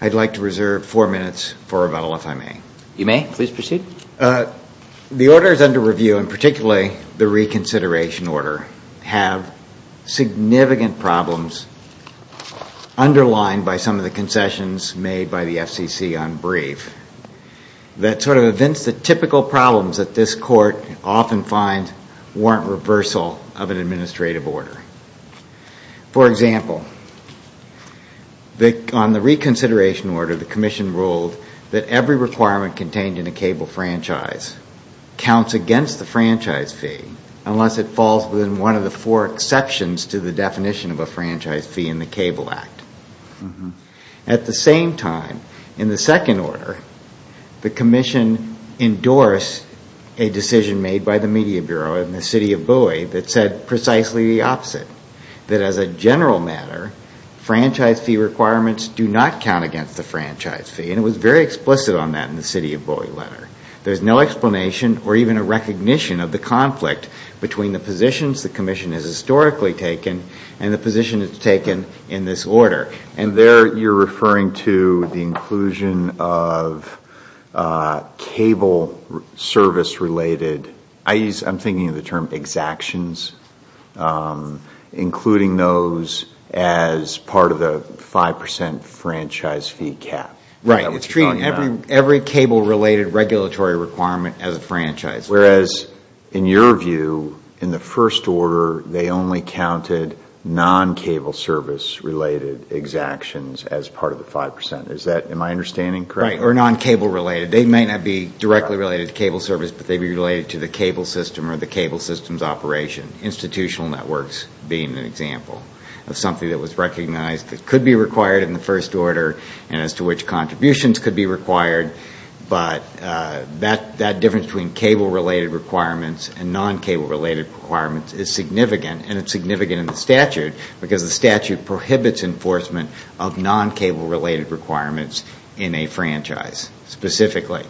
I'd like to reserve four minutes for rebuttal if I may. You may, please proceed. The orders under review, and particularly the reconsideration order, have significant problems underlined by some of the concessions made by the FCC on brief that sort of evince the typical problems that this court often finds warrant reversal of an administrative order. For example, on the reconsideration order, the commission ruled that every requirement contained in a cable franchise counts against the franchise fee unless it falls within one of the four exceptions to the definition of a franchise fee in the cable act. At the same time, in the second order, the commission endorsed a decision made by the media bureau in the city of Bowie that said precisely the opposite, that as a general matter, franchise fee requirements do not count against the franchise fee, and it was very explicit on that in the city of Bowie letter. There's no explanation or even a recognition of the conflict between the positions the commission has historically taken and the position it's taken in this order. And there you're referring to the inclusion of cable service related, I'm thinking of the term exactions, including those as part of the 5% franchise fee cap. Right. It's treating every cable related regulatory requirement as a franchise fee. Whereas in your view, in the first order, they only counted non-cable service related exactions as part of the 5%. Is that, am I understanding correctly? Right. Or non-cable related. They may not be directly related to cable service, but they'd be related to the cable system or the cable system's operation. Institutional networks being an example of something that was recognized that could be contributions, could be required, but that difference between cable related requirements and non-cable related requirements is significant, and it's significant in the statute, because the statute prohibits enforcement of non-cable related requirements in a franchise, specifically.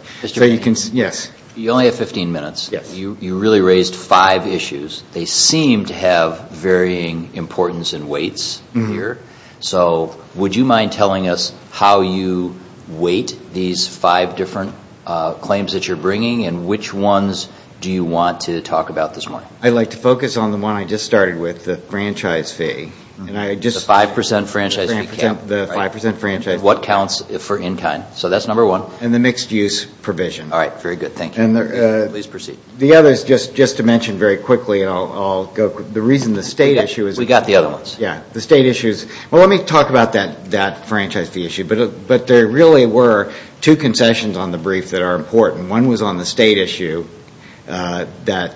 Yes. You only have 15 minutes. You really raised five issues. They seem to have varying importance and weights here. So, would you mind telling us how you weight these five different claims that you're bringing, and which ones do you want to talk about this morning? I'd like to focus on the one I just started with, the franchise fee, and I just... The 5% franchise fee cap. The 5% franchise fee cap. What counts for in-kind. So that's number one. And the mixed use provision. All right. Very good. Thank you. Please proceed. The others, just to mention very quickly, the reason the state issue is... We got the other ones. Yeah. The state issues. Well, let me talk about that franchise fee issue, but there really were two concessions on the brief that are important. One was on the state issue, that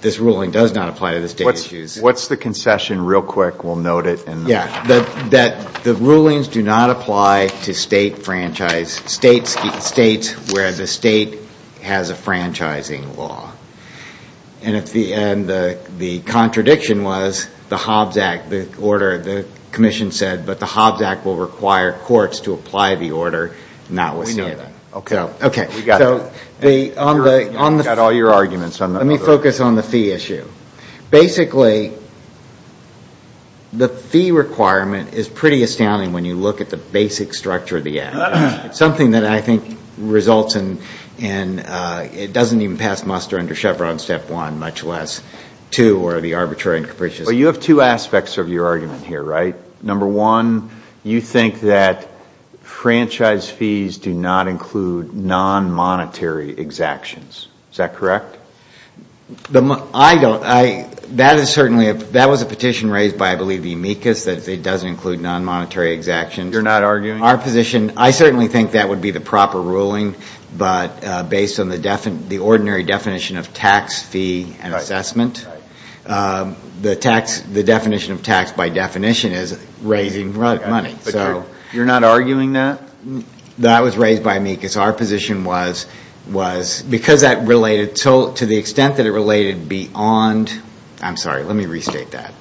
this ruling does not apply to the state issues. What's the concession real quick? We'll note it. Yeah. That the rulings do not apply to state franchise, states where the state has a franchising law. And the contradiction was, the Hobbs Act, the order, the commission said, but the Hobbs Act will require courts to apply the order, not with state. We know that. Okay. We got that. We got all your arguments on that. Let me focus on the fee issue. Basically, the fee requirement is pretty astounding when you look at the basic structure of the act. Something that I think results in, it doesn't even pass muster under Chevron step one, much less two, or the arbitrary and capricious. But you have two aspects of your argument here, right? Number one, you think that franchise fees do not include non-monetary exactions. Is that correct? I don't. That is certainly, that was a petition raised by, I believe, the amicus, that it doesn't include non-monetary exactions. You're not arguing? I certainly think that would be the proper ruling, but based on the ordinary definition of tax fee and assessment, the definition of tax by definition is raising money. You're not arguing that? That was raised by amicus. Our position was, because that related to the extent that it related beyond, I'm sorry, let me restate that.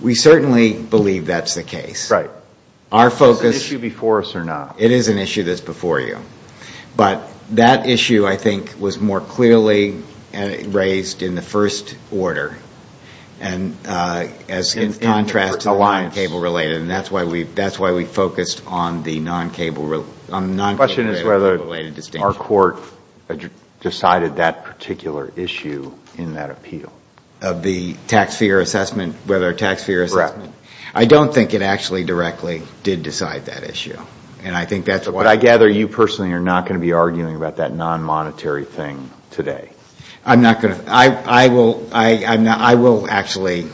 We certainly believe that's the case. Our focus... Is it an issue before us or not? It is an issue that's before you, but that issue, I think, was more clearly raised in the first order, and as in contrast to the non-cable related, and that's why we focused on the non-cable related distinction. The question is whether our court decided that particular issue in that appeal. Of the tax fee or assessment, whether tax fee or assessment. I don't think it actually directly did decide that issue. I think that's what... I gather you personally are not going to be arguing about that non-monetary thing today. I'm not going to... I will actually...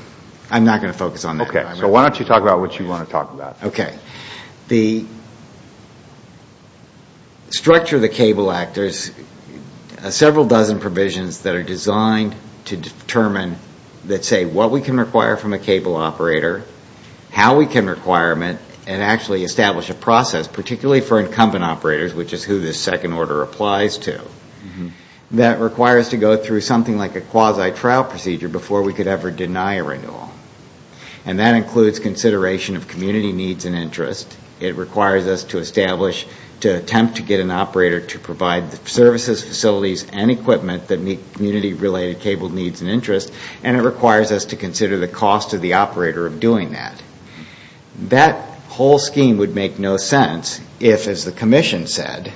I'm not going to focus on that. Why don't you talk about what you want to talk about? The structure of the Cable Act, there's several dozen provisions that are designed to determine that say what we can require from a cable operator, how we can require them, and actually establish a process, particularly for incumbent operators, which is who this second order applies to, that requires to go through something like a quasi-trial procedure before we could ever deny a renewal. That includes consideration of community needs and interest. It requires us to establish, to attempt to get an operator to provide the services, facilities, and equipment that meet community related cable needs and interests. It requires us to consider the cost to the operator of doing that. That whole scheme would make no sense if, as the commission said,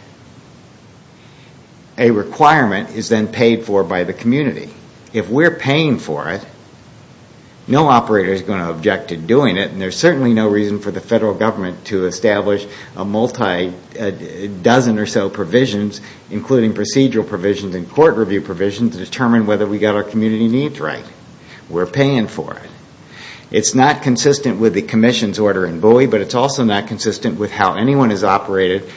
a requirement is then paid for by the community. If we're paying for it, no operator is going to object to doing it. There's certainly no reason for the federal government to establish a multi-dozen or so provisions, including procedural provisions and court review provisions to determine whether we got our community needs right. We're paying for it. It's not consistent with the commission's order in Bowie, but it's also not consistent with how anyone has operated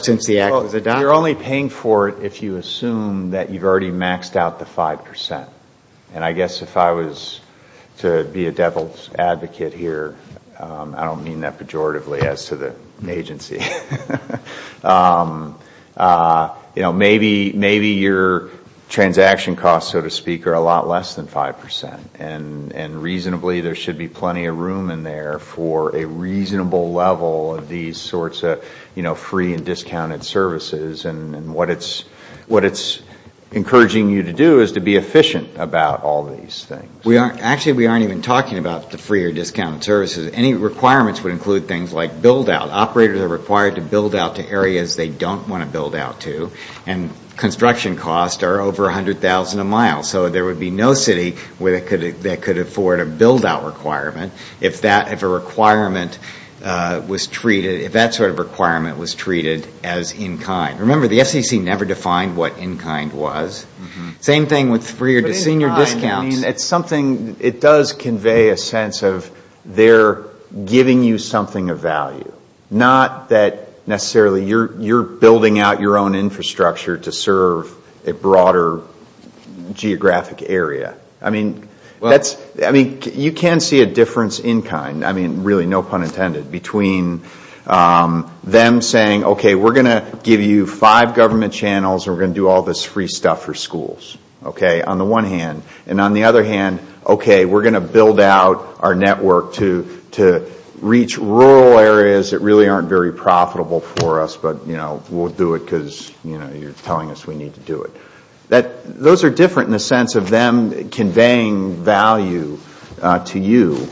since the act was adopted. You're only paying for it if you assume that you've already maxed out the 5%. I guess if I was to be a devil's advocate here, I don't mean that pejoratively as to the agency. Maybe your transaction costs, so to speak, are a lot less than 5%, and reasonably there should be plenty of room in there for a reasonable level of these sorts of free and discounted services. What it's encouraging you to do is to be efficient about all these things. Actually, we aren't even talking about the free or discounted services. Any requirements would include things like build-out. Operators are required to build out to areas they don't want to build out to. Construction costs are over $100,000 a mile, so there would be no city where they could afford a build-out requirement if that sort of requirement was treated as in-kind. Remember, the FCC never defined what in-kind was. It does convey a sense of they're giving you something of value, not that necessarily you're building out your own infrastructure to serve a broader geographic area. You can see a difference in-kind, really no pun intended, between them saying, okay, we're going to do all this free stuff for schools, on the one hand, and on the other hand, okay, we're going to build out our network to reach rural areas that really aren't very profitable for us, but we'll do it because you're telling us we need to do it. Those are different in the sense of them conveying value to you,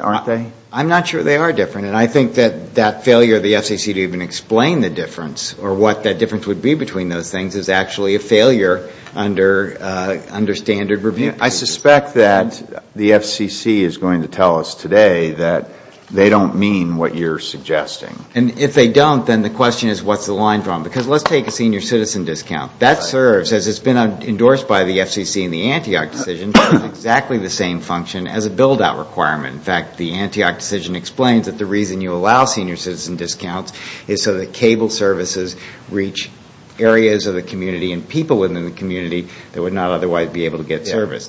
aren't they? I'm not sure they are different, and I think that that failure of the FCC to even explain the difference or what that difference would be between those things is actually a failure under standard review. I suspect that the FCC is going to tell us today that they don't mean what you're suggesting. And if they don't, then the question is, what's the line drawn? Because let's take a senior citizen discount. That serves, as it's been endorsed by the FCC in the Antioch decision, exactly the same function as a build-out requirement. In fact, the Antioch decision explains that the reason you allow senior citizen discounts is so that cable services reach areas of the community and people within the community that would not otherwise be able to get service.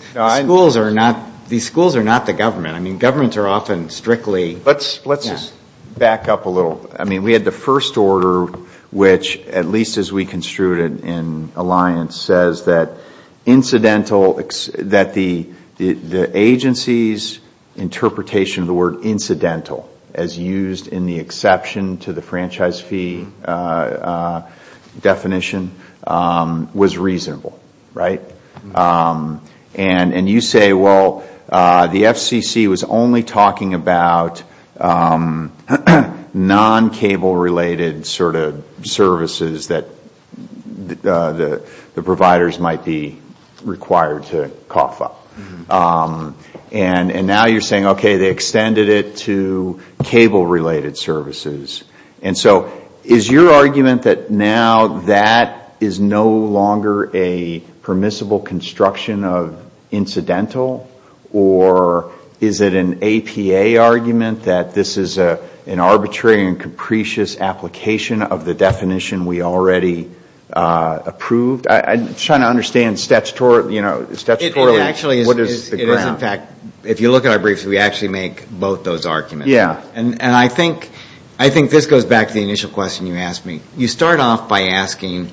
These schools are not the government. I mean, governments are often strictly... Let's just back up a little. I mean, we had the first order, which, at least as we construed it in Alliance, says that incidental, that the agency's interpretation of the word incidental, as used in the exception to the franchise fee definition, was reasonable, right? And you say, well, the FCC was only talking about non-cable-related sort of services that the providers might be required to cough up. And now you're saying, okay, they extended it to cable-related services. And so is your argument that now that is no longer a permissible construction of incidental? Or is it an APA argument that this is an arbitrary and capricious application of the definition we already approved? I'm trying to understand statutorily what is the ground. If you look at our briefs, we actually make both those arguments. And I think this goes back to the initial question you asked me. You start off by asking,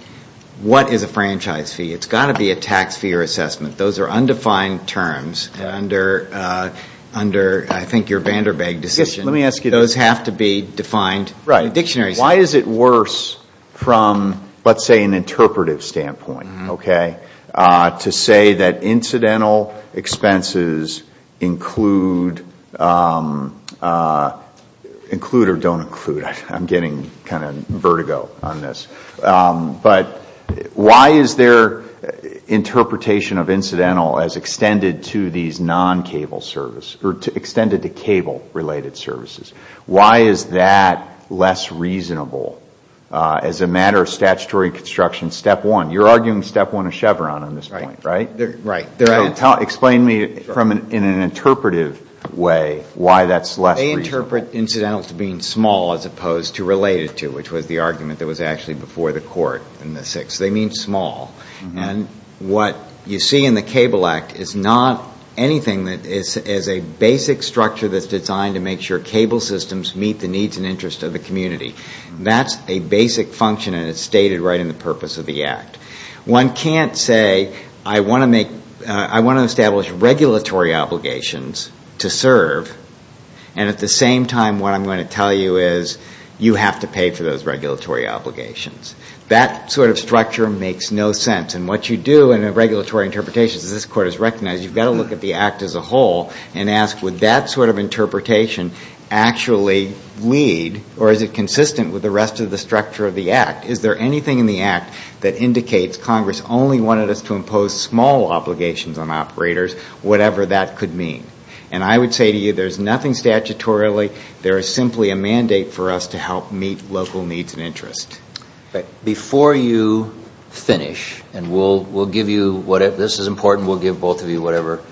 what is a franchise fee? It's got to be a tax fee or assessment. Those are undefined terms under, I think, your Vanderbilt decision. Those have to be defined in the dictionary. Why is it worse from, let's say, an interpretive standpoint, okay, to say that incidental expenses include or don't include, I'm getting kind of vertigo on this, but why is their interpretation of incidental as extended to these non-cable services, or extended to cable-related services? Why is that less reasonable as a matter of statutory construction step one? You're arguing step one of Chevron on this point, right? Explain to me in an interpretive way why that's less reasonable. They interpret incidental to being small as opposed to related to, which was the argument that was actually before the court in the sixth. They mean small. And what you see in the Cable Act is not anything that is a basic structure that's designed to make sure cable systems meet the needs and interests of the community. That's a basic function, and it's stated right in the purpose of the Act. One can't say, I want to establish regulatory obligations to serve, and at the same time, what I'm going to tell you is you have to pay for those regulatory obligations. That sort of structure makes no sense, and what you do in a regulatory interpretation, as this court has recognized, you've got to look at the Act as a whole and ask, would that sort of interpretation actually lead, or is it consistent with the rest of the structure of the Act? Is there anything in the Act that indicates Congress only wanted us to impose small obligations on operators, whatever that could mean? And I would say to you, there's nothing statutorily. There is simply a mandate for us to help meet local needs and interests. Before you finish, and we'll give you, this is important, we'll give both of you whatever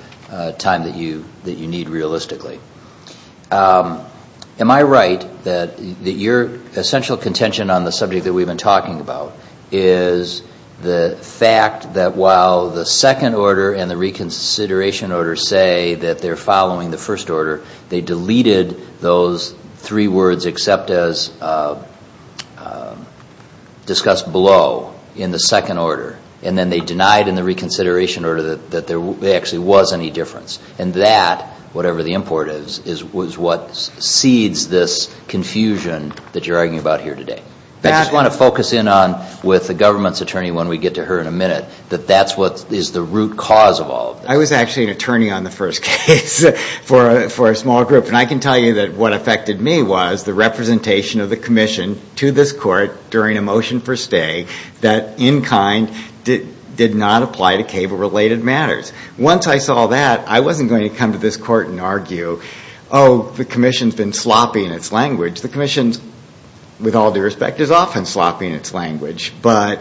time that you need realistically. Am I right that your essential contention on the subject that we've been talking about is the fact that while the second order and the reconsideration order say that they're following the first order, they deleted those three words, except as discussed below, in the second order, and then they denied in the reconsideration order that there actually was any difference. And that, whatever the import is, is what seeds this confusion that you're arguing about here today. I just want to focus in on, with the government's attorney, when we get to her in a minute, that that's what is the root cause of all of this. I was actually an attorney on the first case for a small group, and I can tell you that what affected me was the representation of the commission to this court during a motion for stay that in kind did not apply to cable-related matters. Once I saw that, I wasn't going to come to this court and argue, oh, the commission's been sloppy in its language. The commission, with all due respect, is often sloppy in its language. But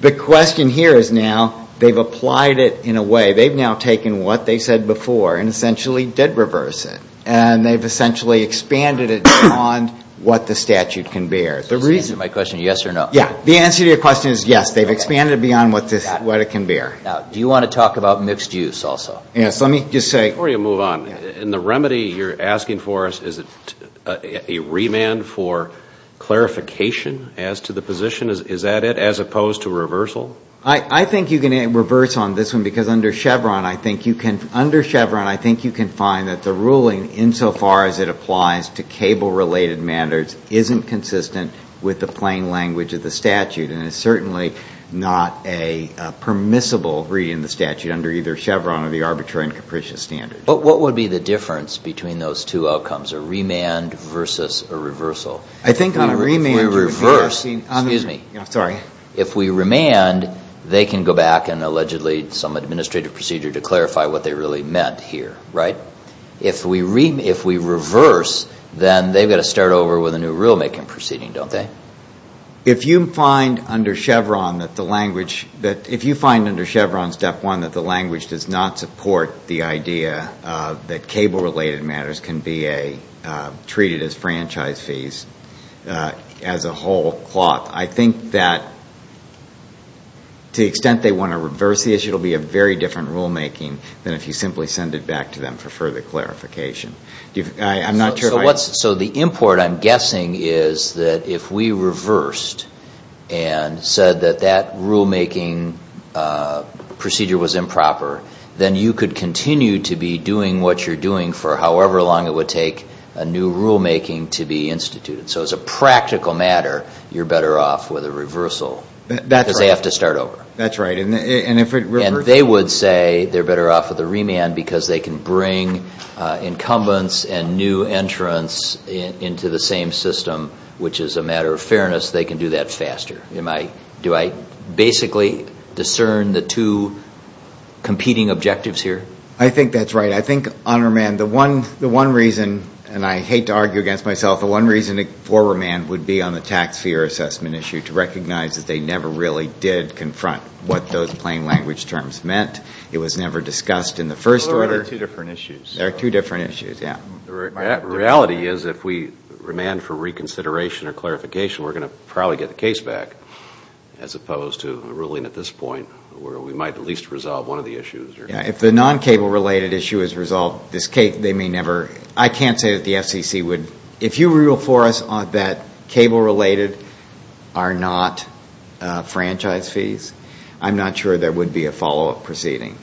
the question here is now, they've applied it in a way, they've now taken what they said before and essentially did reverse it. And they've essentially expanded it beyond what the statute can bear. The reason... So the answer to my question is yes or no? Yeah. The answer to your question is yes. They've expanded it beyond what it can bear. Now, do you want to talk about mixed use also? Yes. Let me just say... Before you move on, in the remedy you're asking for, is it a remand for clarification as to the position? Is that it? As opposed to reversal? I think you can reverse on this one, because under Chevron, I think you can find that the ruling insofar as it applies to cable-related matters isn't consistent with the plain language of the statute. And it's certainly not a permissible reading of the statute under either Chevron or the arbitrary and capricious standards. What would be the difference between those two outcomes, a remand versus a reversal? I think on a remand... If we reverse... Excuse me. I'm sorry. If we remand, they can go back and allegedly some administrative procedure to clarify what they really meant here, right? If we reverse, then they've got to start over with a new rulemaking proceeding, don't they? If you find under Chevron that the language... If you find under Chevron step one that the language does not support the idea that cable-related matters can be treated as franchise fees as a whole cloth, I think that to the extent they want to reverse the issue, it'll be a very different rulemaking than if you simply send it back to them for further clarification. I'm not sure if I... So the import I'm guessing is that if we reversed and said that that rulemaking procedure was improper, then you could continue to be doing what you're doing for however long it would take a new rulemaking to be instituted. So as a practical matter, you're better off with a reversal because they have to start over. That's right. And if it... And they would say they're better off with a remand because they can bring incumbents and new entrants into the same system, which is a matter of fairness, they can do that faster. Do I basically discern the two competing objectives here? I think that's right. I think on remand, the one reason, and I hate to argue against myself, the one reason for remand would be on the tax fee or assessment issue to recognize that they never really did confront what those plain language terms meant. It was never discussed in the first order. Well, there are two different issues. There are two different issues, yeah. The reality is if we remand for reconsideration or clarification, we're going to probably get the case back as opposed to ruling at this point where we might at least resolve one of the issues. Yeah. If the non-cable related issue is resolved, they may never... I can't say that the FCC would... If you rule for us that cable related are not franchise fees, I'm not sure there would be a follow-up proceeding.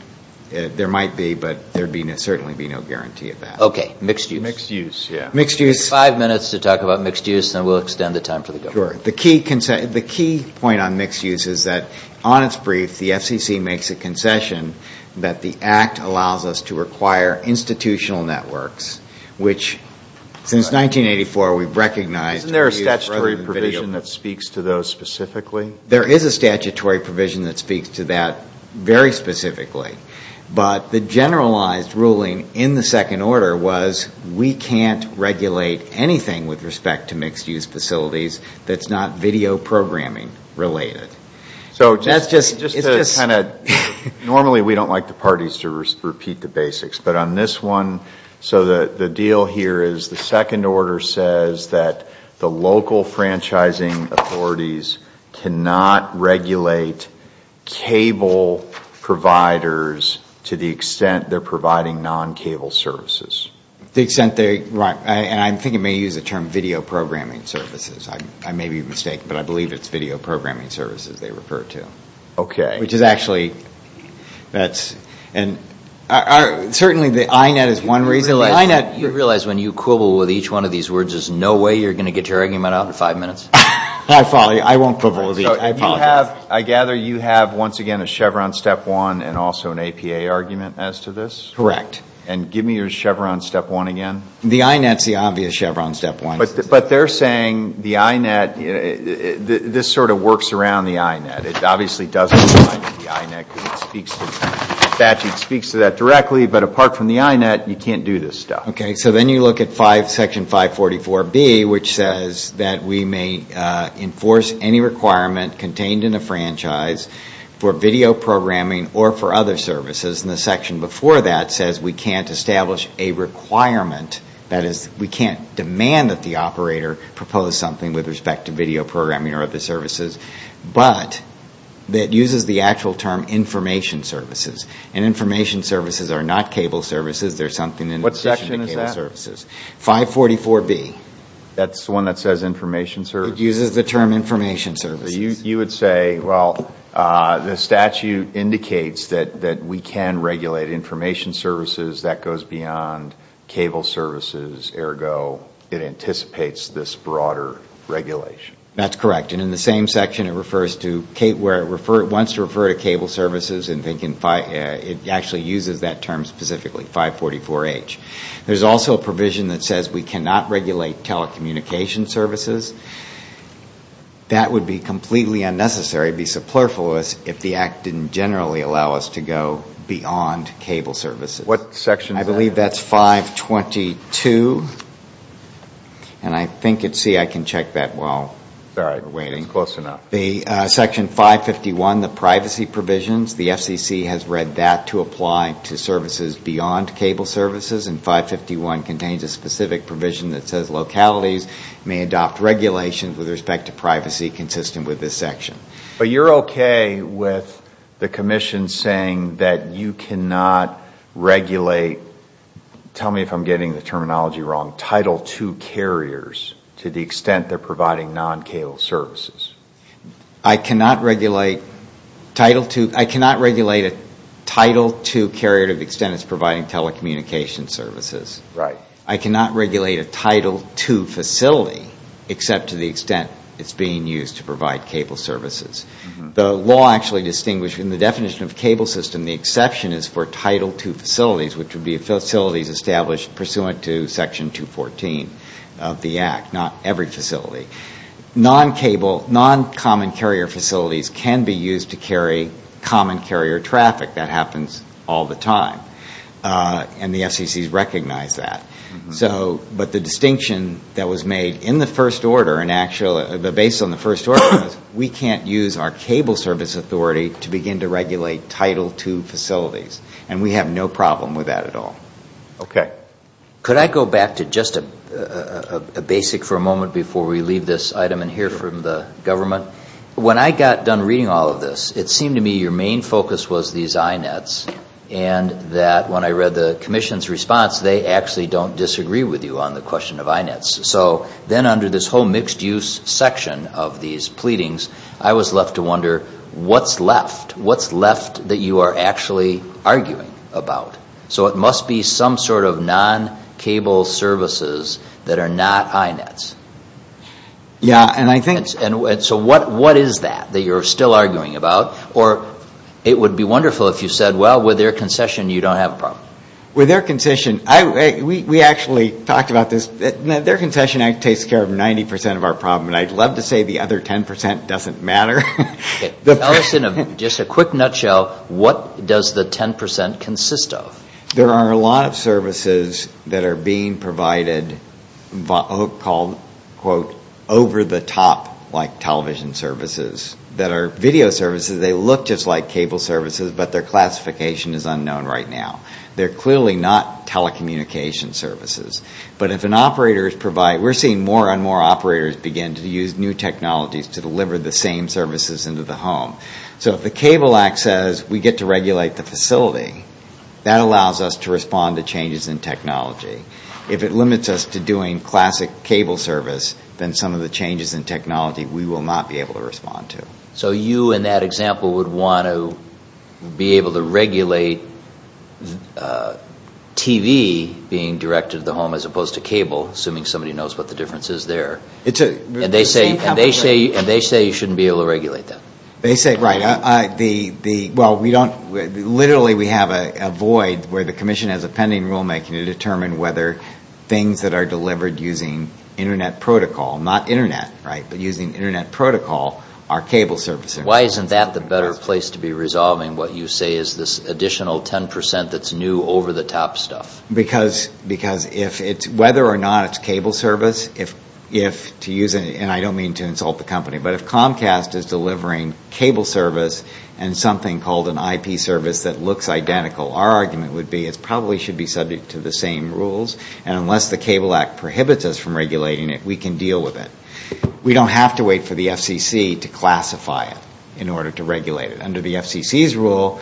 There might be, but there'd certainly be no guarantee of that. Mixed use. Mixed use, yeah. Mixed use. Five minutes to talk about mixed use, then we'll extend the time for the government. The key point on mixed use is that on its brief, the FCC makes a concession that the act allows us to require institutional networks, which since 1984, we've recognized... Isn't there a statutory provision that speaks to those specifically? There is a statutory provision that speaks to that very specifically, but the generalized ruling in the second order was we can't regulate anything with respect to mixed use facilities that's not video programming related. That's just... Normally, we don't like the parties to repeat the basics, but on this one, the deal here is the second order says that the local franchising authorities cannot regulate cable providers to the extent they're providing non-cable services. The extent they... Right. And I think it may use the term video programming services. I may be mistaken, but I believe it's video programming services they refer to. Okay. Which is actually... That's... And certainly, the INET is one reason why... The INET... You realize when you quibble with each one of these words, there's no way you're going to get your argument out in five minutes? I won't quibble with each. I apologize. I gather you have, once again, a Chevron step one and also an APA argument as to this? Correct. And give me your Chevron step one again. The INET's the obvious Chevron step one. But they're saying the INET... This sort of works around the INET. It obviously doesn't apply to the INET, because it speaks to that directly. But apart from the INET, you can't do this stuff. Okay. So then you look at section 544B, which says that we may enforce any requirement contained in a franchise for video programming or for other services, and the section before that says we can't establish a requirement, that is, we can't demand that the operator propose something with respect to video programming or other services, but that uses the actual term information services. And information services are not cable services. There's something in addition to cable services. What section is that? 544B. That's the one that says information services? It uses the term information services. You would say, well, the statute indicates that we can regulate information services. That goes beyond cable services, ergo, it anticipates this broader regulation. That's correct. And in the same section it refers to, where it wants to refer to cable services, it actually uses that term specifically, 544H. There's also a provision that says we cannot regulate telecommunication services. That would be completely unnecessary, be subplurful of us, if the act didn't generally allow us to go beyond cable services. What section is that? I believe that's 522, and I think it's, see, I can check that while we're waiting. Sorry, it's close enough. The section 551, the privacy provisions, the FCC has read that to apply to services beyond cable services, and 551 contains a specific provision that says localities may adopt regulations with respect to privacy consistent with this section. But you're okay with the commission saying that you cannot regulate, tell me if I'm getting the terminology wrong, Title II carriers to the extent they're providing non-cable services? I cannot regulate Title II, I cannot regulate a Title II carrier to the extent it's providing telecommunication services. I cannot regulate a Title II facility except to the extent it's being used to provide cable services. The law actually distinguishes, in the definition of cable system, the exception is for Title II facilities, which would be facilities established pursuant to section 214 of the act, not every facility. Non-cable, non-common carrier facilities can be used to carry common carrier traffic, that happens all the time, and the FCC has recognized that. But the distinction that was made in the first order, based on the first order, was we can't use our cable service authority to begin to regulate Title II facilities, and we have no problem with that at all. Okay. Could I go back to just a basic for a moment before we leave this item and hear from the government? When I got done reading all of this, it seemed to me your main focus was these INETs, and that when I read the commission's response, they actually don't disagree with you on the question of INETs. So then under this whole mixed-use section of these pleadings, I was left to wonder, what's left? What's left that you are actually arguing about? So it must be some sort of non-cable services that are not INETs. Yeah, and I think... So what is that, that you are still arguing about? Or it would be wonderful if you said, well, with their concession, you don't have a problem. With their concession, we actually talked about this. Their concession act takes care of 90 percent of our problem, and I'd love to say the other 10 percent doesn't matter. Tell us in just a quick nutshell, what does the 10 percent consist of? There are a lot of services that are being provided called, quote, over-the-top like television services that are video services. They look just like cable services, but their classification is unknown right now. They're clearly not telecommunication services. But if an operator is provided, we're seeing more and more operators begin to use new technologies to deliver the same services into the home. So if the Cable Act says we get to regulate the facility, that allows us to respond to changes in technology. If it limits us to doing classic cable service, then some of the changes in technology we will not be able to respond to. So you, in that example, would want to be able to regulate TV being directed to the home as opposed to cable, assuming somebody knows what the difference is there. And they say you shouldn't be able to regulate that. They say, right. Well, literally we have a void where the Commission has a pending rulemaking to determine whether things that are delivered using Internet protocol, not Internet, but using Internet protocol, are cable services. Why isn't that the better place to be resolving what you say is this additional 10 percent that's new over-the-top stuff? Because whether or not it's cable service, if to use it, and I don't mean to insult the company, but if Comcast is delivering cable service and something called an IP service that looks identical, our argument would be it probably should be subject to the same rules. And unless the Cable Act prohibits us from regulating it, we can deal with it. We don't have to wait for the FCC to classify it in order to regulate it. Under the FCC's rule,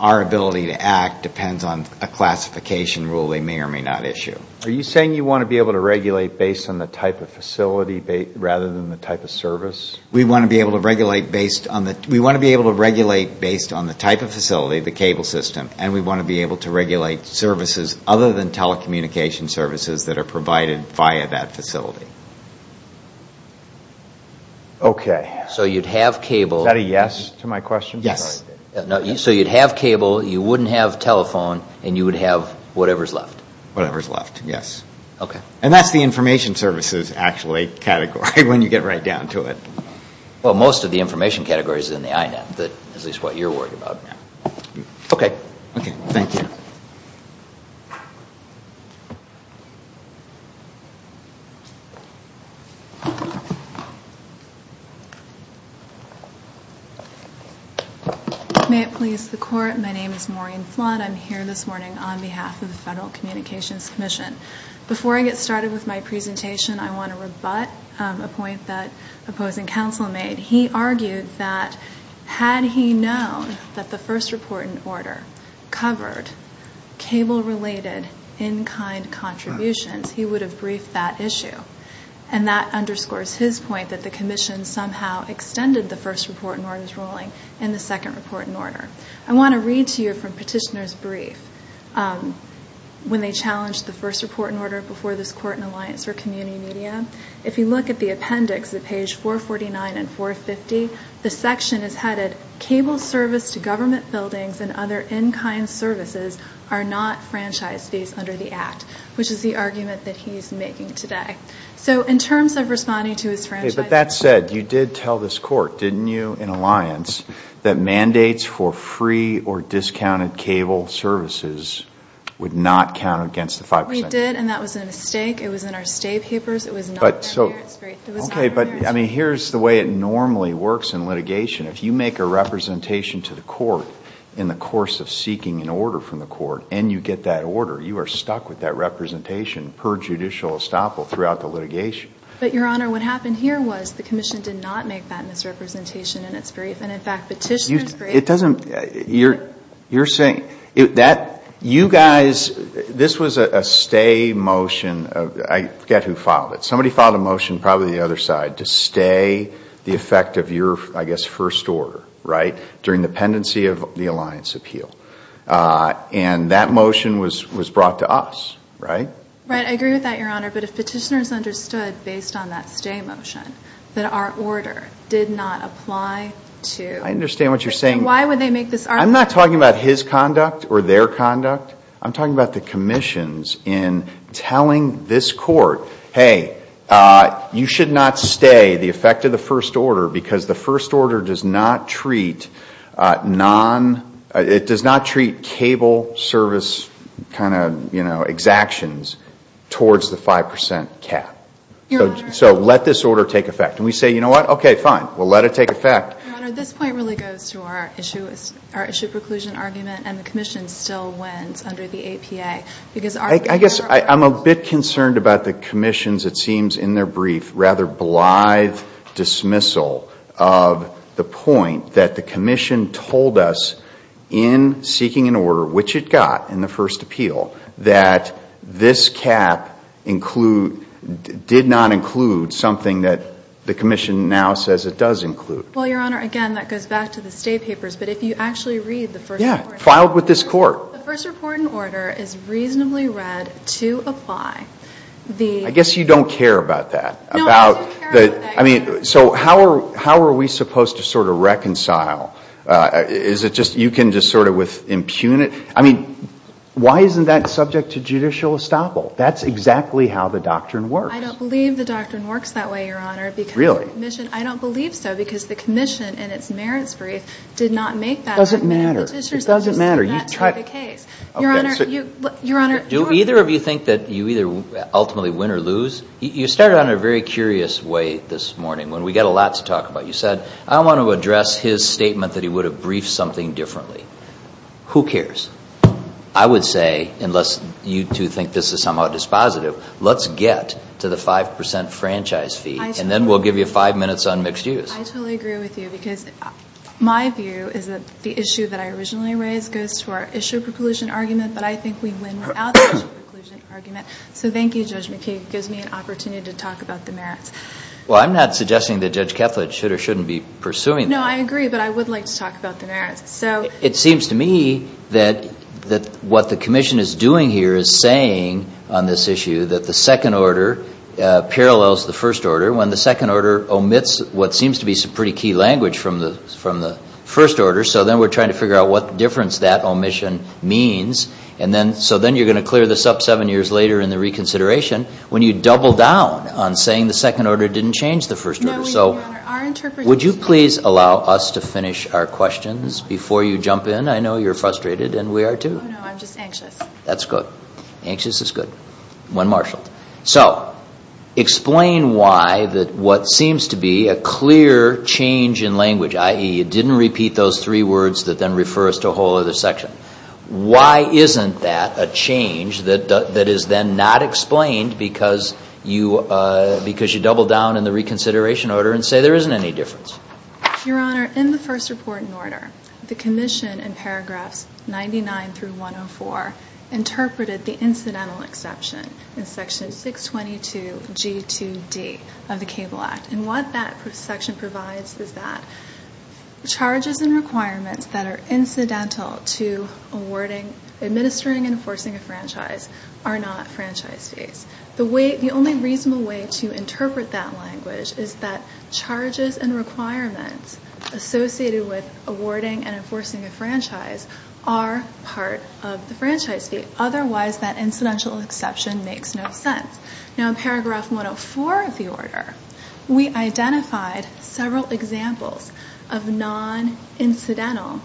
our ability to act depends on a classification rule they may or may not issue. Are you saying you want to be able to regulate based on the type of facility rather than the type of service? We want to be able to regulate based on the type of facility, the cable system. And we want to be able to regulate services other than telecommunication services that are provided via that facility. So you'd have cable. Is that a yes to my question? Yes. So you'd have cable. You wouldn't have telephone. And you would have whatever's left? Whatever's left, yes. And that's the information services, actually, category when you get right down to it. Most of the information category is in the INET, at least what you're worried about. Okay. Okay. Thank you. May it please the Court, my name is Maureen Flood. I'm here this morning on behalf of the Federal Communications Commission. Before I get started with my presentation, I want to rebut a point that opposing counsel made. He argued that had he known that the first report in order covered cable-related, in-kind contributions, he would have briefed that issue. And that underscores his point that the Commission somehow extended the first report in order's ruling in the second report in order. I want to read to you from Petitioner's brief when they challenged the first report in order before this Court and Alliance for Community Media. If you look at the appendix at page 449 and 450, the section is headed, cable service to government buildings and other in-kind services are not franchise fees under the Act. Which is the argument that he's making today. So in terms of responding to his franchise... But that said, you did tell this Court, didn't you, in Alliance, that mandates for free or discounted cable services would not count against the 5%. We did, and that was a mistake. It was in our state papers. It was not in there. It's great. It was not in there. Okay, but I mean, here's the way it normally works in litigation. If you make a representation to the Court in the course of seeking an order from the Court, and you get that order, you are stuck with that representation per judicial estoppel throughout the litigation. But, Your Honor, what happened here was the Commission did not make that misrepresentation in its brief. And in fact, Petitioner's brief... You... It doesn't... You're... You're saying... That... You guys... This was a stay motion. I forget who filed it. Somebody filed a motion, probably the other side, to stay the effect of your, I guess, first order, right, during the pendency of the Alliance appeal. And that motion was brought to us, right? Right. I agree with that, Your Honor. But if Petitioner's understood, based on that stay motion, that our order did not apply to... I understand what you're saying. Why would they make this argument? I'm not talking about his conduct or their conduct. I'm talking about the Commission's in telling this court, hey, you should not stay the effect of the first order because the first order does not treat non... It does not treat cable service kind of, you know, exactions towards the 5% cap. So let this order take effect. And we say, you know what? Okay, fine. We'll let it take effect. Your Honor, this point really goes to our issue preclusion argument, and the Commission still wins under the APA. Because our... I guess I'm a bit concerned about the Commission's, it seems, in their brief, rather blithe dismissal of the point that the Commission told us in seeking an order, which it got in the first appeal, that this cap include, did not include something that the Commission now says it does include. Well, Your Honor, again, that goes back to the stay papers, but if you actually read the first... Yeah. Filed with this court. The first report and order is reasonably read to apply the... I guess you don't care about that. No, I don't care about that, Your Honor. So how are we supposed to sort of reconcile? Is it just you can just sort of impugn it? I mean, why isn't that subject to judicial estoppel? That's exactly how the doctrine works. I don't believe the doctrine works that way, Your Honor, because the Commission... Really? I don't believe so, because the Commission in its merits brief did not make that argument. It doesn't matter. It doesn't matter. That's not the case. Your Honor, you... Do either of you think that you either ultimately win or lose? You started on a very curious way this morning when we got a lot to talk about. You said, I want to address his statement that he would have briefed something differently. Who cares? I would say, unless you two think this is somehow dispositive, let's get to the 5% franchise fee and then we'll give you five minutes on mixed use. I totally agree with you, because my view is that the issue that I originally raised goes to our issue preclusion argument, but I think we win without the issue preclusion argument. So thank you, Judge McKay. It gives me an opportunity to talk about the merits. Well, I'm not suggesting that Judge Ketlet should or shouldn't be pursuing that. No, I agree, but I would like to talk about the merits. It seems to me that what the Commission is doing here is saying on this issue that the from the First Order. So then we're trying to figure out what difference that omission means. So then you're going to clear this up seven years later in the reconsideration when you double down on saying the Second Order didn't change the First Order. Would you please allow us to finish our questions before you jump in? I know you're frustrated and we are too. Oh, no. I'm just anxious. That's good. Anxious is good. When marshaled. So explain why that what seems to be a clear change in language, i.e. it didn't repeat those three words that then refer us to a whole other section. Why isn't that a change that is then not explained because you double down in the reconsideration order and say there isn't any difference? Your Honor, in the First Report and Order, the Commission in paragraphs 99 through 104 interpreted the incidental exception in section 622G2D of the Cable Act and what that section provides is that charges and requirements that are incidental to awarding, administering and enforcing a franchise are not franchise fees. The only reasonable way to interpret that language is that charges and requirements associated with awarding and enforcing a franchise are part of the franchise fee. Otherwise that incidental exception makes no sense. Now in paragraph 104 of the order, we identified several examples of non-incidental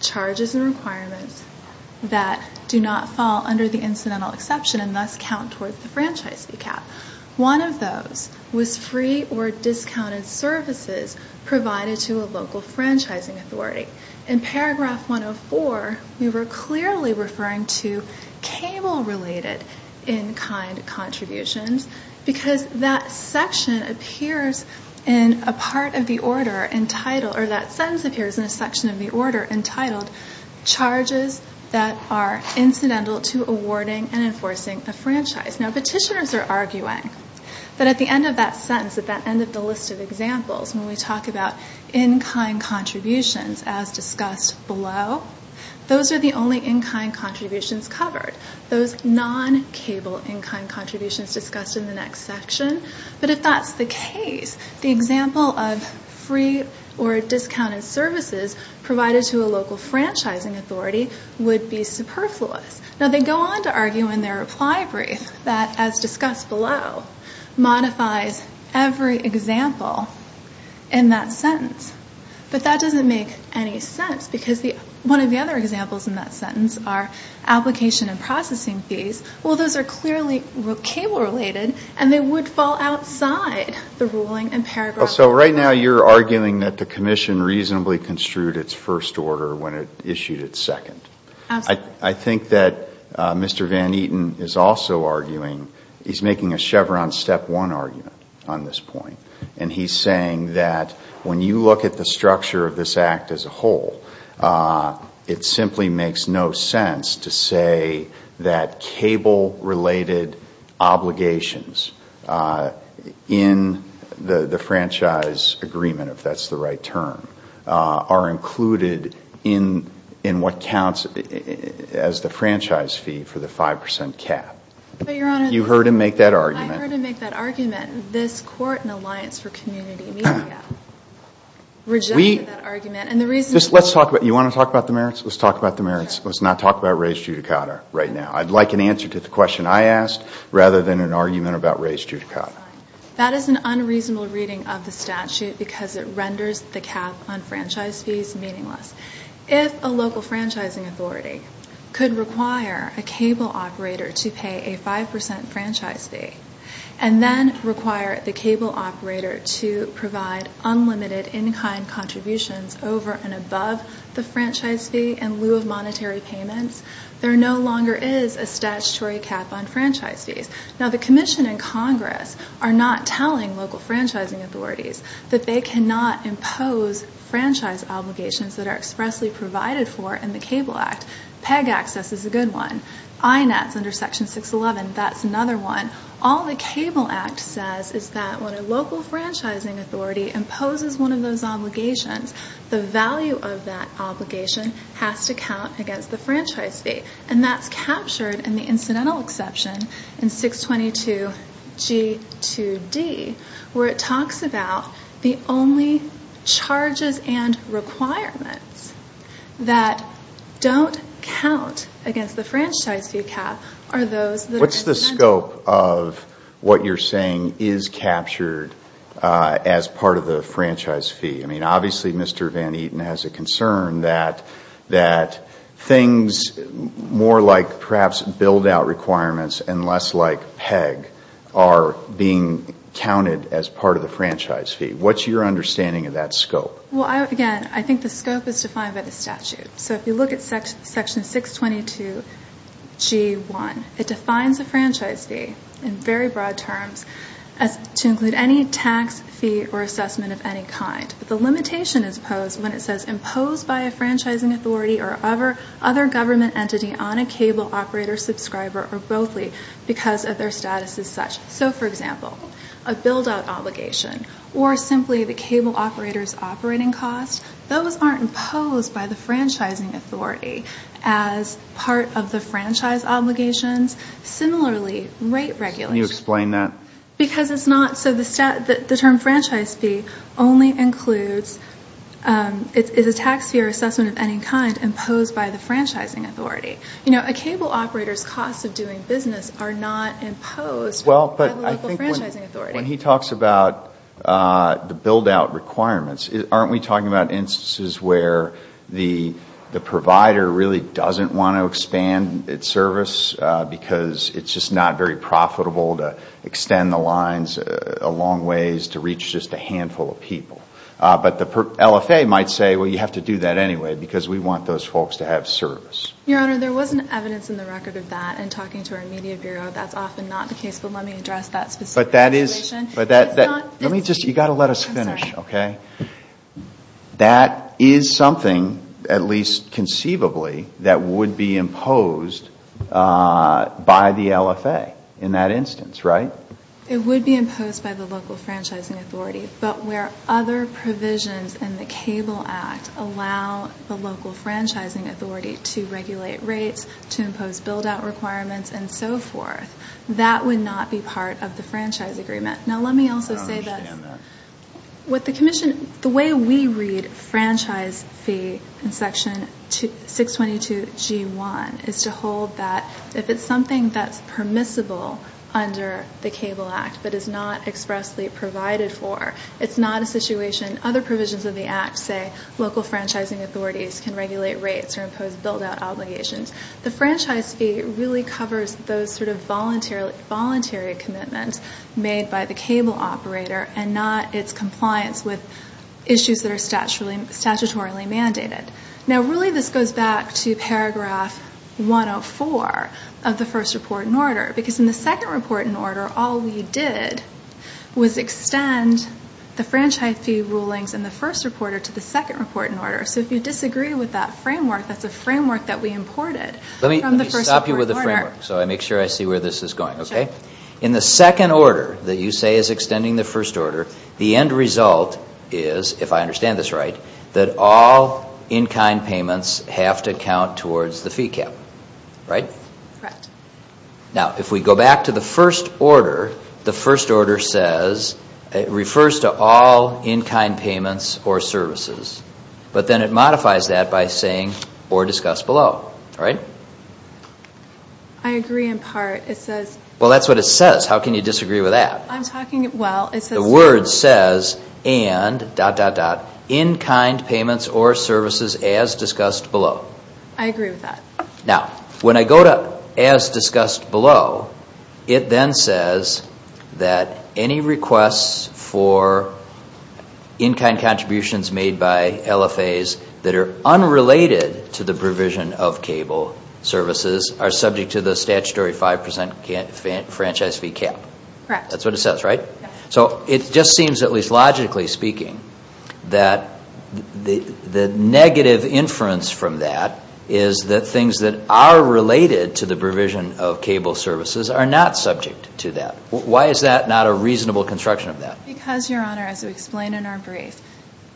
charges and requirements that do not fall under the incidental exception and thus count towards the franchise fee cap. One of those was free or discounted services provided to a local franchising authority. In paragraph 104, we were clearly referring to cable-related in-kind contributions because that section appears in a part of the order entitled, or that sentence appears in a section of the order entitled, charges that are incidental to awarding and enforcing a franchise. Now petitioners are arguing that at the end of that sentence, at the end of the list of examples, when we talk about in-kind contributions as discussed below, those are the only in-kind contributions covered. Those non-cable in-kind contributions discussed in the next section. But if that's the case, the example of free or discounted services provided to a local franchising authority would be superfluous. Now they go on to argue in their reply brief that, as discussed below, modifies every example in that sentence. But that doesn't make any sense because one of the other examples in that sentence are application and processing fees. Well those are clearly cable-related and they would fall outside the ruling in paragraph 104. Right now you're arguing that the commission reasonably construed its first order when it issued its second. I think that Mr. Van Eaten is also arguing, he's making a Chevron step one argument on this point. And he's saying that when you look at the structure of this act as a whole, it simply makes no sense to say that cable-related obligations in the franchise agreement, if that's the as the franchise fee for the 5% cap. But Your Honor. You heard him make that argument. I heard him make that argument. This Court and Alliance for Community Media rejected that argument. And the reason. Let's talk about, you want to talk about the merits? Let's talk about the merits. Let's not talk about raised judicata right now. I'd like an answer to the question I asked rather than an argument about raised judicata. That is an unreasonable reading of the statute because it renders the cap on franchise fees meaningless. If a local franchising authority could require a cable operator to pay a 5% franchise fee and then require the cable operator to provide unlimited in-kind contributions over and above the franchise fee in lieu of monetary payments, there no longer is a statutory cap on franchise fees. Now the Commission and Congress are not telling local franchising authorities that they cannot impose franchise obligations that are expressly provided for in the Cable Act. PEG access is a good one. INETs under Section 611, that's another one. All the Cable Act says is that when a local franchising authority imposes one of those obligations, the value of that obligation has to count against the franchise fee. And that's captured in the incidental exception in 622G2D where it talks about the only charges and requirements that don't count against the franchise fee cap are those that are in the incidental exception. What's the scope of what you're saying is captured as part of the franchise fee? I mean, obviously Mr. Van Eaton has a concern that things more like perhaps build-out requirements and less like PEG are being counted as part of the franchise fee. What's your understanding of that scope? Well, again, I think the scope is defined by the statute. So if you look at Section 622G1, it defines a franchise fee in very broad terms to include any tax fee or assessment of any kind. But the limitation is posed when it says imposed by a franchising authority or other government entity on a cable operator, subscriber, or bothly because of their status as such. So for example, a build-out obligation or simply the cable operator's operating cost, those aren't imposed by the franchising authority as part of the franchise obligations. Similarly, rate regulation. Can you explain that? Because it's not so the term franchise fee only includes, it's a tax fee or assessment of any kind imposed by the franchising authority. You know, a cable operator's costs of doing business are not imposed. Well, but I think when he talks about the build-out requirements, aren't we talking about instances where the provider really doesn't want to expand its service because it's just not very profitable to extend the lines a long ways to reach just a handful of people. But the LFA might say, well, you have to do that anyway because we want those folks to have service. Your Honor, there was an evidence in the record of that. In talking to our media bureau, that's often not the case. But let me address that specific situation. But that is, but that, let me just, you've got to let us finish, okay? I'm sorry. That is something, at least conceivably, that would be imposed by the LFA in that instance, right? It would be imposed by the local franchising authority. But where other provisions in the Cable Act allow the local franchising authority to regulate rates, to impose build-out requirements, and so forth, that would not be part of the franchise agreement. Now let me also say that the way we read franchise fee in Section 622G1 is to hold that if it's something that's permissible under the Cable Act but is not expressly provided for, it's not a situation, other provisions of the Act say local franchising authorities can regulate rates or impose build-out obligations. The franchise fee really covers those sort of voluntary commitments made by the cable operator and not its compliance with issues that are statutorily mandated. Now really this goes back to paragraph 104 of the first report in order. Because in the second report in order, all we did was extend the franchise fee rulings in the first report to the second report in order. So if you disagree with that framework, that's a framework that we imported from the first report in order. Let me stop you with the framework so I make sure I see where this is going, okay? In the second order that you say is extending the first order, the end result is, if I understand this right, that all in-kind payments have to count towards the fee cap, right? Correct. Now if we go back to the first order, the first order says, it refers to all in-kind payments or services. But then it modifies that by saying, or discuss below, right? I agree in part. It says... Well, that's what it says. How can you disagree with that? I'm talking... Well, it says... The word says, and dot, dot, dot, in-kind payments or services as discussed below. I agree with that. Now, when I go to as discussed below, it then says that any requests for in-kind contributions made by LFAs that are unrelated to the provision of cable services are subject to the statutory 5% franchise fee cap. Correct. That's what it says, right? So it just seems, at least logically speaking, that the negative inference from that is that things that are related to the provision of cable services are not subject to that. Why is that not a reasonable construction of that? Because, Your Honor, as we explain in our brief,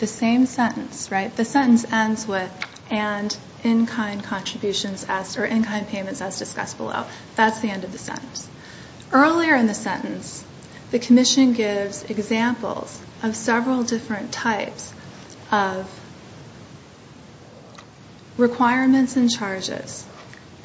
the same sentence, right? The sentence ends with, and in-kind contributions as, or in-kind payments as discussed below. That's the end of the sentence. Earlier in the sentence, the commission gives examples of several different types of requirements and charges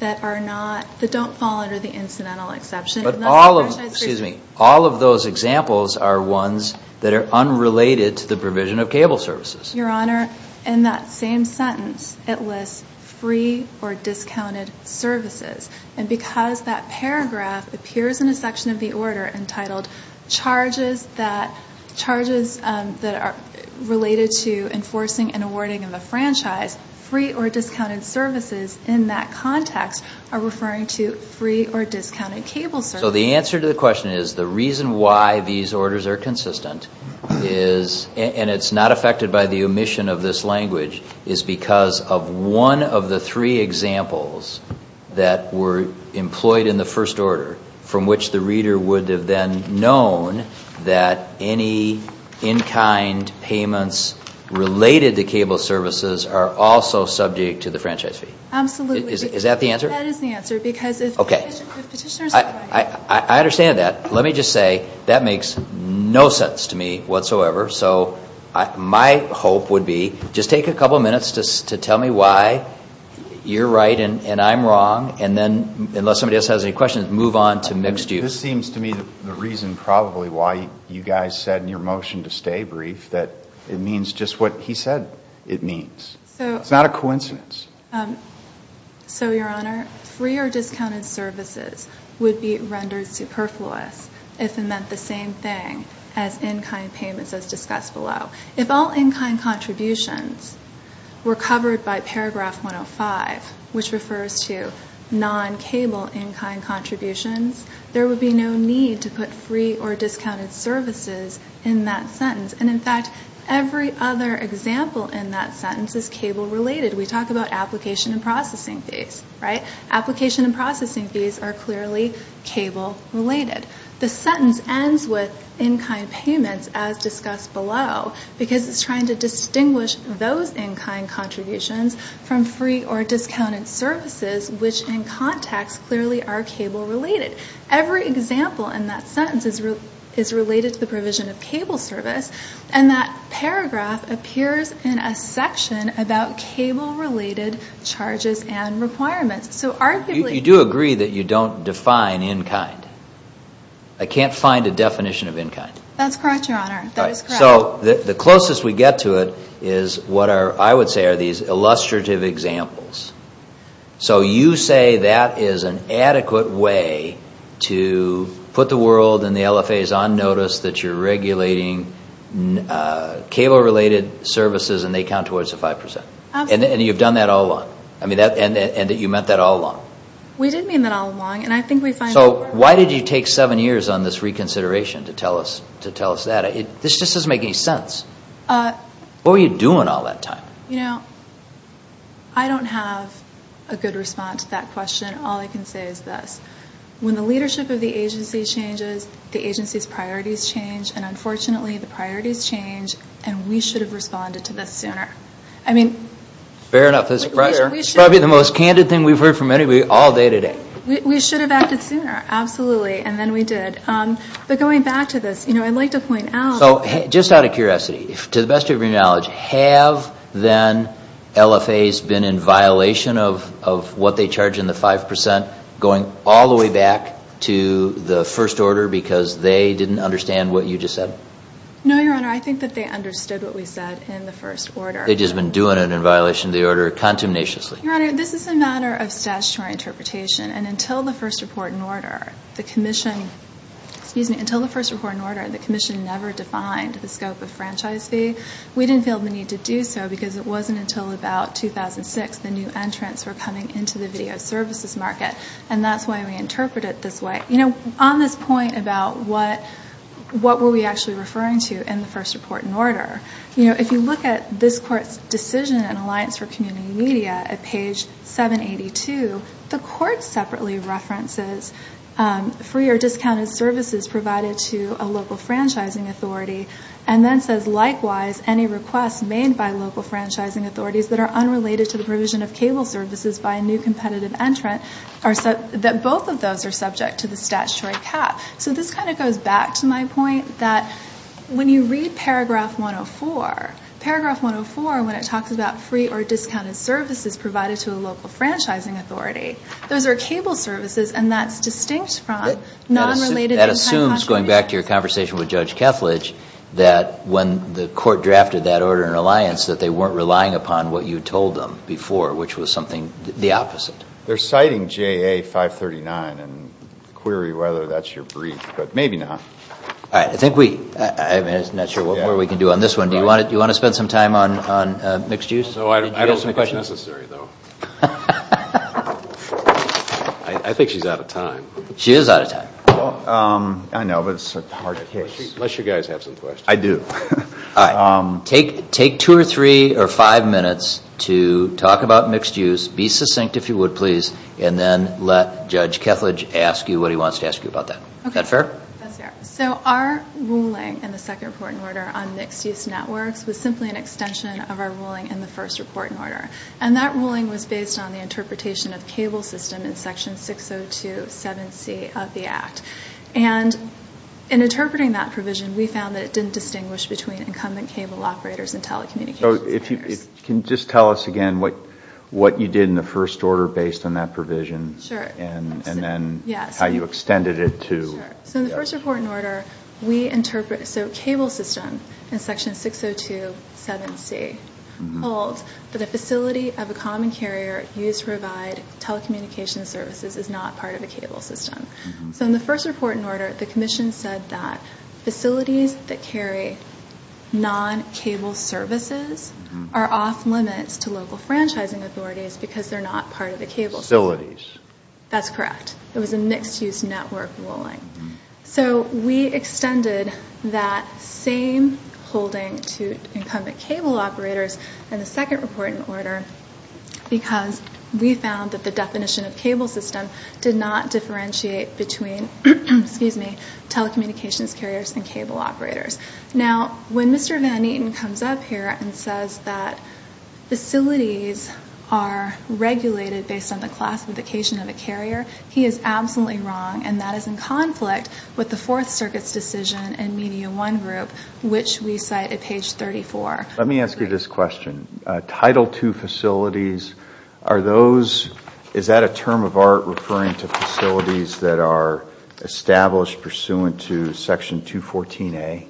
that don't fall under the incidental exception. But all of those examples are ones that are unrelated to the provision of cable services. Your Honor, in that same sentence, it lists free or discounted services. And because that paragraph appears in a section of the order entitled charges that are related to enforcing and awarding in the franchise, free or discounted services in that context are referring to free or discounted cable services. So the answer to the question is the reason why these orders are consistent is, and it's not affected by the omission of this language, is because of one of the three examples that were employed in the first order from which the reader would have then known that any in-kind payments related to cable services are also subject to the franchise fee. Absolutely. Is that the answer? That is the answer. Because if Petitioner's right. I understand that. Let me just say, that makes no sense to me whatsoever. So my hope would be, just take a couple minutes to tell me why you're right and I'm wrong. And then, unless somebody else has any questions, move on to mixed use. This seems to me the reason probably why you guys said in your motion to stay brief that it means just what he said it means. It's not a coincidence. So your honor, free or discounted services would be rendered superfluous if it meant the same thing as in-kind payments as discussed below. If all in-kind contributions were covered by paragraph 105, which refers to non-cable in-kind contributions, there would be no need to put free or discounted services in that sentence. And in fact, every other example in that sentence is cable related. We talk about application and processing fees, right? Application and processing fees are clearly cable related. The sentence ends with in-kind payments as discussed below because it's trying to distinguish those in-kind contributions from free or discounted services, which in context clearly are cable related. Every example in that sentence is related to the provision of cable service. And that paragraph appears in a section about cable related charges and requirements. So arguably- You do agree that you don't define in-kind. I can't find a definition of in-kind. That's correct, your honor. That is correct. The closest we get to it is what I would say are these illustrative examples. So you say that is an adequate way to put the world and the LFAs on notice that you're regulating cable related services and they count towards the 5%. And you've done that all along. I mean, you meant that all along. We did mean that all along and I think we find- So why did you take seven years on this reconsideration to tell us that? This just doesn't make any sense. What were you doing all that time? You know, I don't have a good response to that question. All I can say is this. When the leadership of the agency changes, the agency's priorities change and unfortunately the priorities change and we should have responded to this sooner. I mean- Fair enough. That's probably the most candid thing we've heard from anybody all day today. We should have acted sooner. Absolutely. And then we did. But going back to this, you know, I'd like to point out- So just out of curiosity, to the best of your knowledge, have then LFAs been in violation of what they charge in the 5% going all the way back to the first order because they didn't understand what you just said? No, Your Honor. I think that they understood what we said in the first order. They've just been doing it in violation of the order contumaciously. Your Honor, this is a matter of statutory interpretation and until the first report in order, the commission never defined the scope of franchise fee. We didn't feel the need to do so because it wasn't until about 2006 the new entrants were coming into the video services market and that's why we interpret it this way. You know, on this point about what were we actually referring to in the first report in order, you know, if you look at this Court's decision in Alliance for Community Media at free or discounted services provided to a local franchising authority and then says likewise any requests made by local franchising authorities that are unrelated to the provision of cable services by a new competitive entrant, that both of those are subject to the statutory cap. So this kind of goes back to my point that when you read paragraph 104, paragraph 104 when it talks about free or discounted services provided to a local franchising authority, those are cable services and that's distinct from non-related entrant contributions. That assumes going back to your conversation with Judge Kethledge that when the Court drafted that order in Alliance that they weren't relying upon what you told them before which was something the opposite. They're citing JA 539 and query whether that's your brief but maybe not. All right, I think we, I'm not sure what more we can do on this one. Do you want to spend some time on mixed use? No, I don't think it's necessary though. I think she's out of time. She is out of time. I know but it's a hard case. Unless you guys have some questions. I do. All right, take two or three or five minutes to talk about mixed use. Be succinct if you would please and then let Judge Kethledge ask you what he wants to ask you about that. Is that fair? So our ruling in the second reporting order on mixed use networks was simply an extension of our ruling in the first reporting order and that ruling was based on the interpretation of cable system in section 602.7c of the act. And in interpreting that provision we found that it didn't distinguish between incumbent cable operators and telecommunications. So if you can just tell us again what you did in the first order based on that provision. Sure. And then how you extended it to. Sure. So in the first reporting order we interpret, so cable system in section 602.7c holds that facility of a common carrier used to provide telecommunications services is not part of a cable system. So in the first reporting order the commission said that facilities that carry non-cable services are off limits to local franchising authorities because they're not part of the cable system. Facilities. That's correct. It was a mixed use network ruling. So we extended that same holding to incumbent cable operators in the second reporting order because we found that the definition of cable system did not differentiate between, excuse me, telecommunications carriers and cable operators. Now when Mr. Van Neaten comes up here and says that facilities are regulated based on the classification of a carrier, he is absolutely wrong and that is in conflict with the Fourth Circuit's decision in media one group which we cite at page 34. Let me ask you this question. Title II facilities, are those, is that a term of art referring to facilities that are established pursuant to section 214a?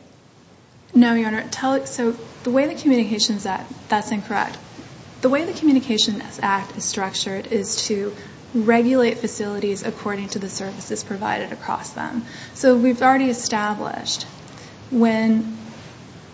No, your honor. So the way the communications act, that's incorrect. The way the communications act is structured is to regulate facilities according to the services provided across them. So we've already established when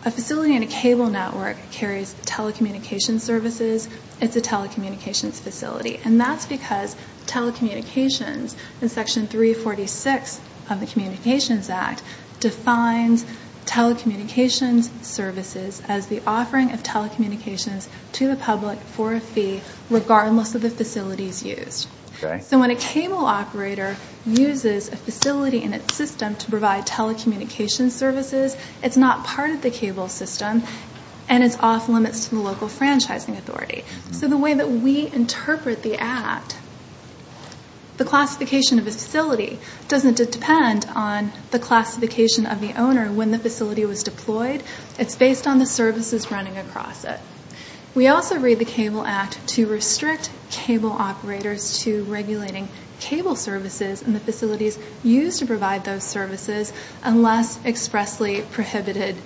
a facility in a cable network carries telecommunications services, it's a telecommunications facility and that's because telecommunications in section 346 of the communications act defines telecommunications services as the offering of telecommunications to the public for a fee regardless of the facilities used. So when a cable operator uses a facility in its system to provide telecommunications services, it's not part of the cable system and it's off limits to the local franchising authority. So the way that we interpret the act, the classification of a facility doesn't depend on the classification of the owner when the facility was deployed. It's based on the services running across it. We also read the cable act to restrict cable operators to regulating cable services and the facilities used to provide those services unless expressly prohibited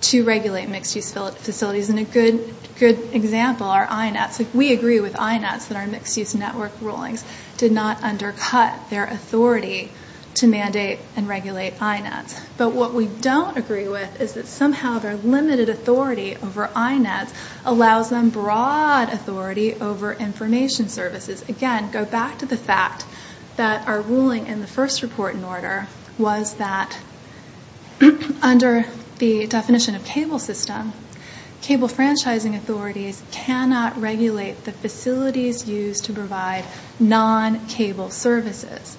to regulate mixed use facilities. And a good example are INETs. We agree with INETs that our mixed use network rulings did not undercut their authority to mandate and regulate INETs. But what we don't agree with is that somehow their limited authority over INETs allows them broad authority over information services. Again, go back to the fact that our ruling in the first report in order was that under the definition of cable system, cable franchising authorities cannot regulate the facilities used to provide non-cable services,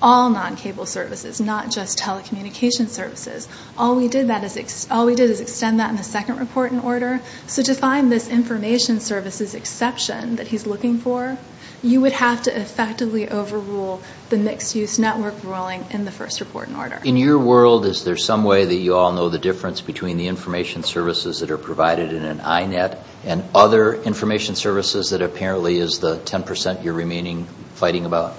all non-cable services, not just telecommunications services. All we did is extend that in the second report in order. So to find this information services exception that he's looking for, you would have to effectively overrule the mixed use network ruling in the first report in order. In your world, is there some way that you all know the difference between the information services that are provided in an INET and other information services that apparently is the 10% you're remaining fighting about?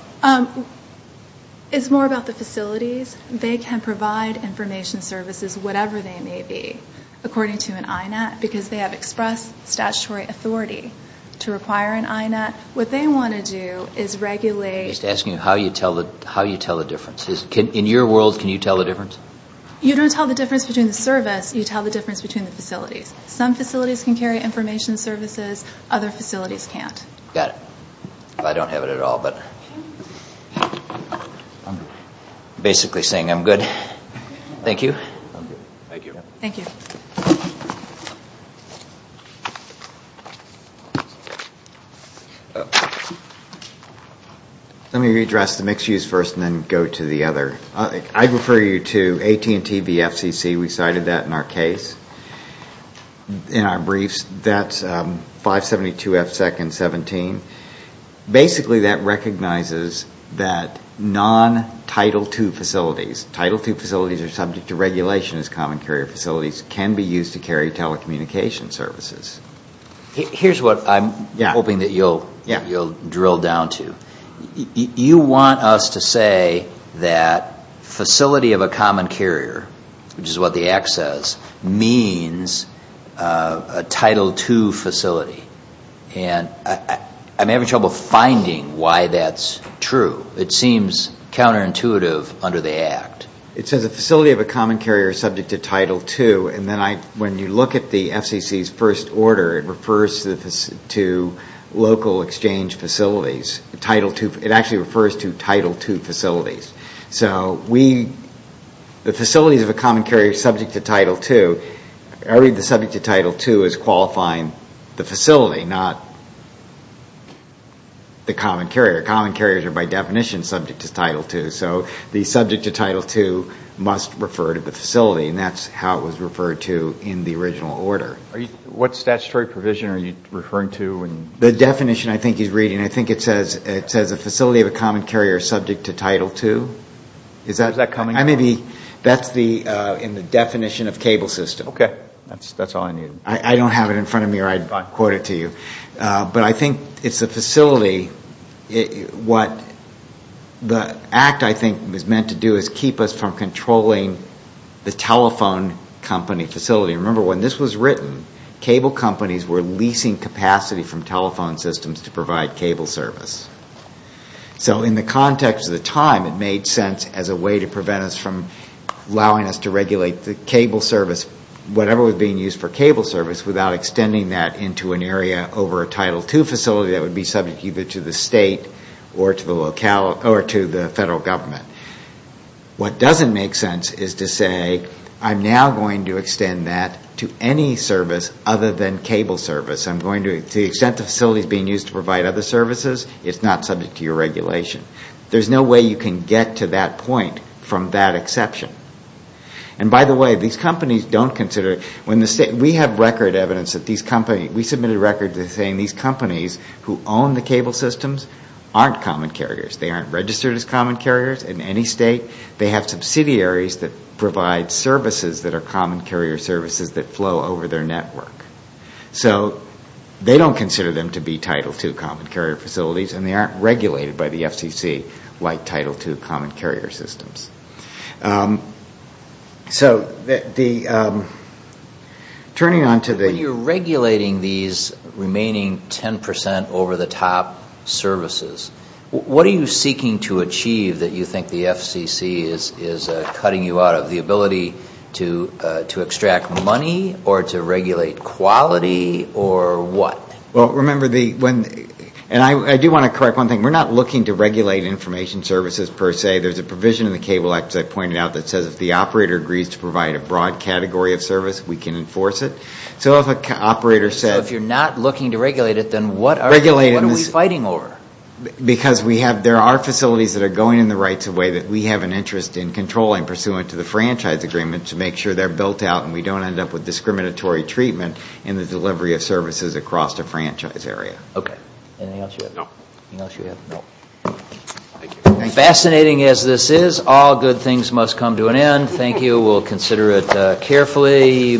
It's more about the facilities. They can provide information services, whatever they may be, according to an INET, because they have expressed statutory authority to require an INET. What they want to do is regulate... Just asking how you tell the difference. In your world, can you tell the difference? You don't tell the difference between the service. You tell the difference between the facilities. Some facilities can carry information services, other facilities can't. Got it. I don't have it at all, but I'm basically saying I'm good. Thank you. Thank you. Let me redress the mixed use first and then go to the other. I refer you to AT&T VFCC. We cited that in our case. In our briefs, that's 572 F2-17. Basically, that recognizes that non-Title II facilities, Title II facilities are subject to regulation as common carrier facilities, can be used to carry telecommunication services. Here's what I'm hoping that you'll drill down to. You want us to say that facility of a common carrier, which is what the act says, means a Title II facility. I'm having trouble finding why that's true. It seems counterintuitive under the act. It says a facility of a common carrier is subject to Title II. When you look at the FCC's first order, it refers to local exchange facilities. It actually refers to Title II facilities. The facilities of a common carrier subject to Title II, I read the subject to Title II as qualifying the facility, not the common carrier. Common carriers are by definition subject to Title II. The subject to Title II must refer to the facility. That's how it was referred to in the original order. What statutory provision are you referring to? The definition I think he's reading, I think it says a facility of a common carrier subject to Title II. That's in the definition of cable system. I don't have it in front of me or I'd quote it to you. But I think it's a facility. What the act I think is meant to do is keep us from controlling the telephone company facility. Remember when this was written, cable companies were leasing capacity from telephone systems to provide cable service. So in the context of the time, it made sense as a way to prevent us from allowing us to regulate the cable service, whatever was being used for cable service without extending that into an area over a Title II facility that would be subject either to the state or to the federal government. What doesn't make sense is to say, I'm now going to extend that to any service other than cable service. I'm going to extend the facilities being used to provide other services. It's not subject to your regulation. There's no way you can get to that point from that exception. And by the way, these companies don't consider, we have record evidence that these companies, we submitted records saying these companies who own the cable systems aren't common carriers. They aren't registered as common carriers in any state. They have subsidiaries that provide services that are common carrier services that flow over their network. So they don't consider them to be Title II common carrier facilities and they aren't regulated by the FCC like Title II common carrier systems. So turning on to the... When you're regulating these remaining 10% over the top services, what are you seeking to achieve that you think the FCC is cutting you out of? The ability to extract money or to regulate quality or what? Well, remember the... And I do want to correct one thing. We're not looking to regulate information services per se. There's a provision in the Cable Act, as I pointed out, that says if the operator agrees to provide a broad category of service, we can enforce it. So if an operator said... If you're not looking to regulate it, then what are we fighting over? Because there are facilities that are going in the right way that we have an interest in controlling pursuant to the franchise agreement to make sure they're built out and we don't end up with discriminatory treatment in the delivery of services across the franchise area. Okay. Anything else you have? No. Anything else you have? No. Fascinating as this is, all good things must come to an end. Thank you. We'll consider it carefully.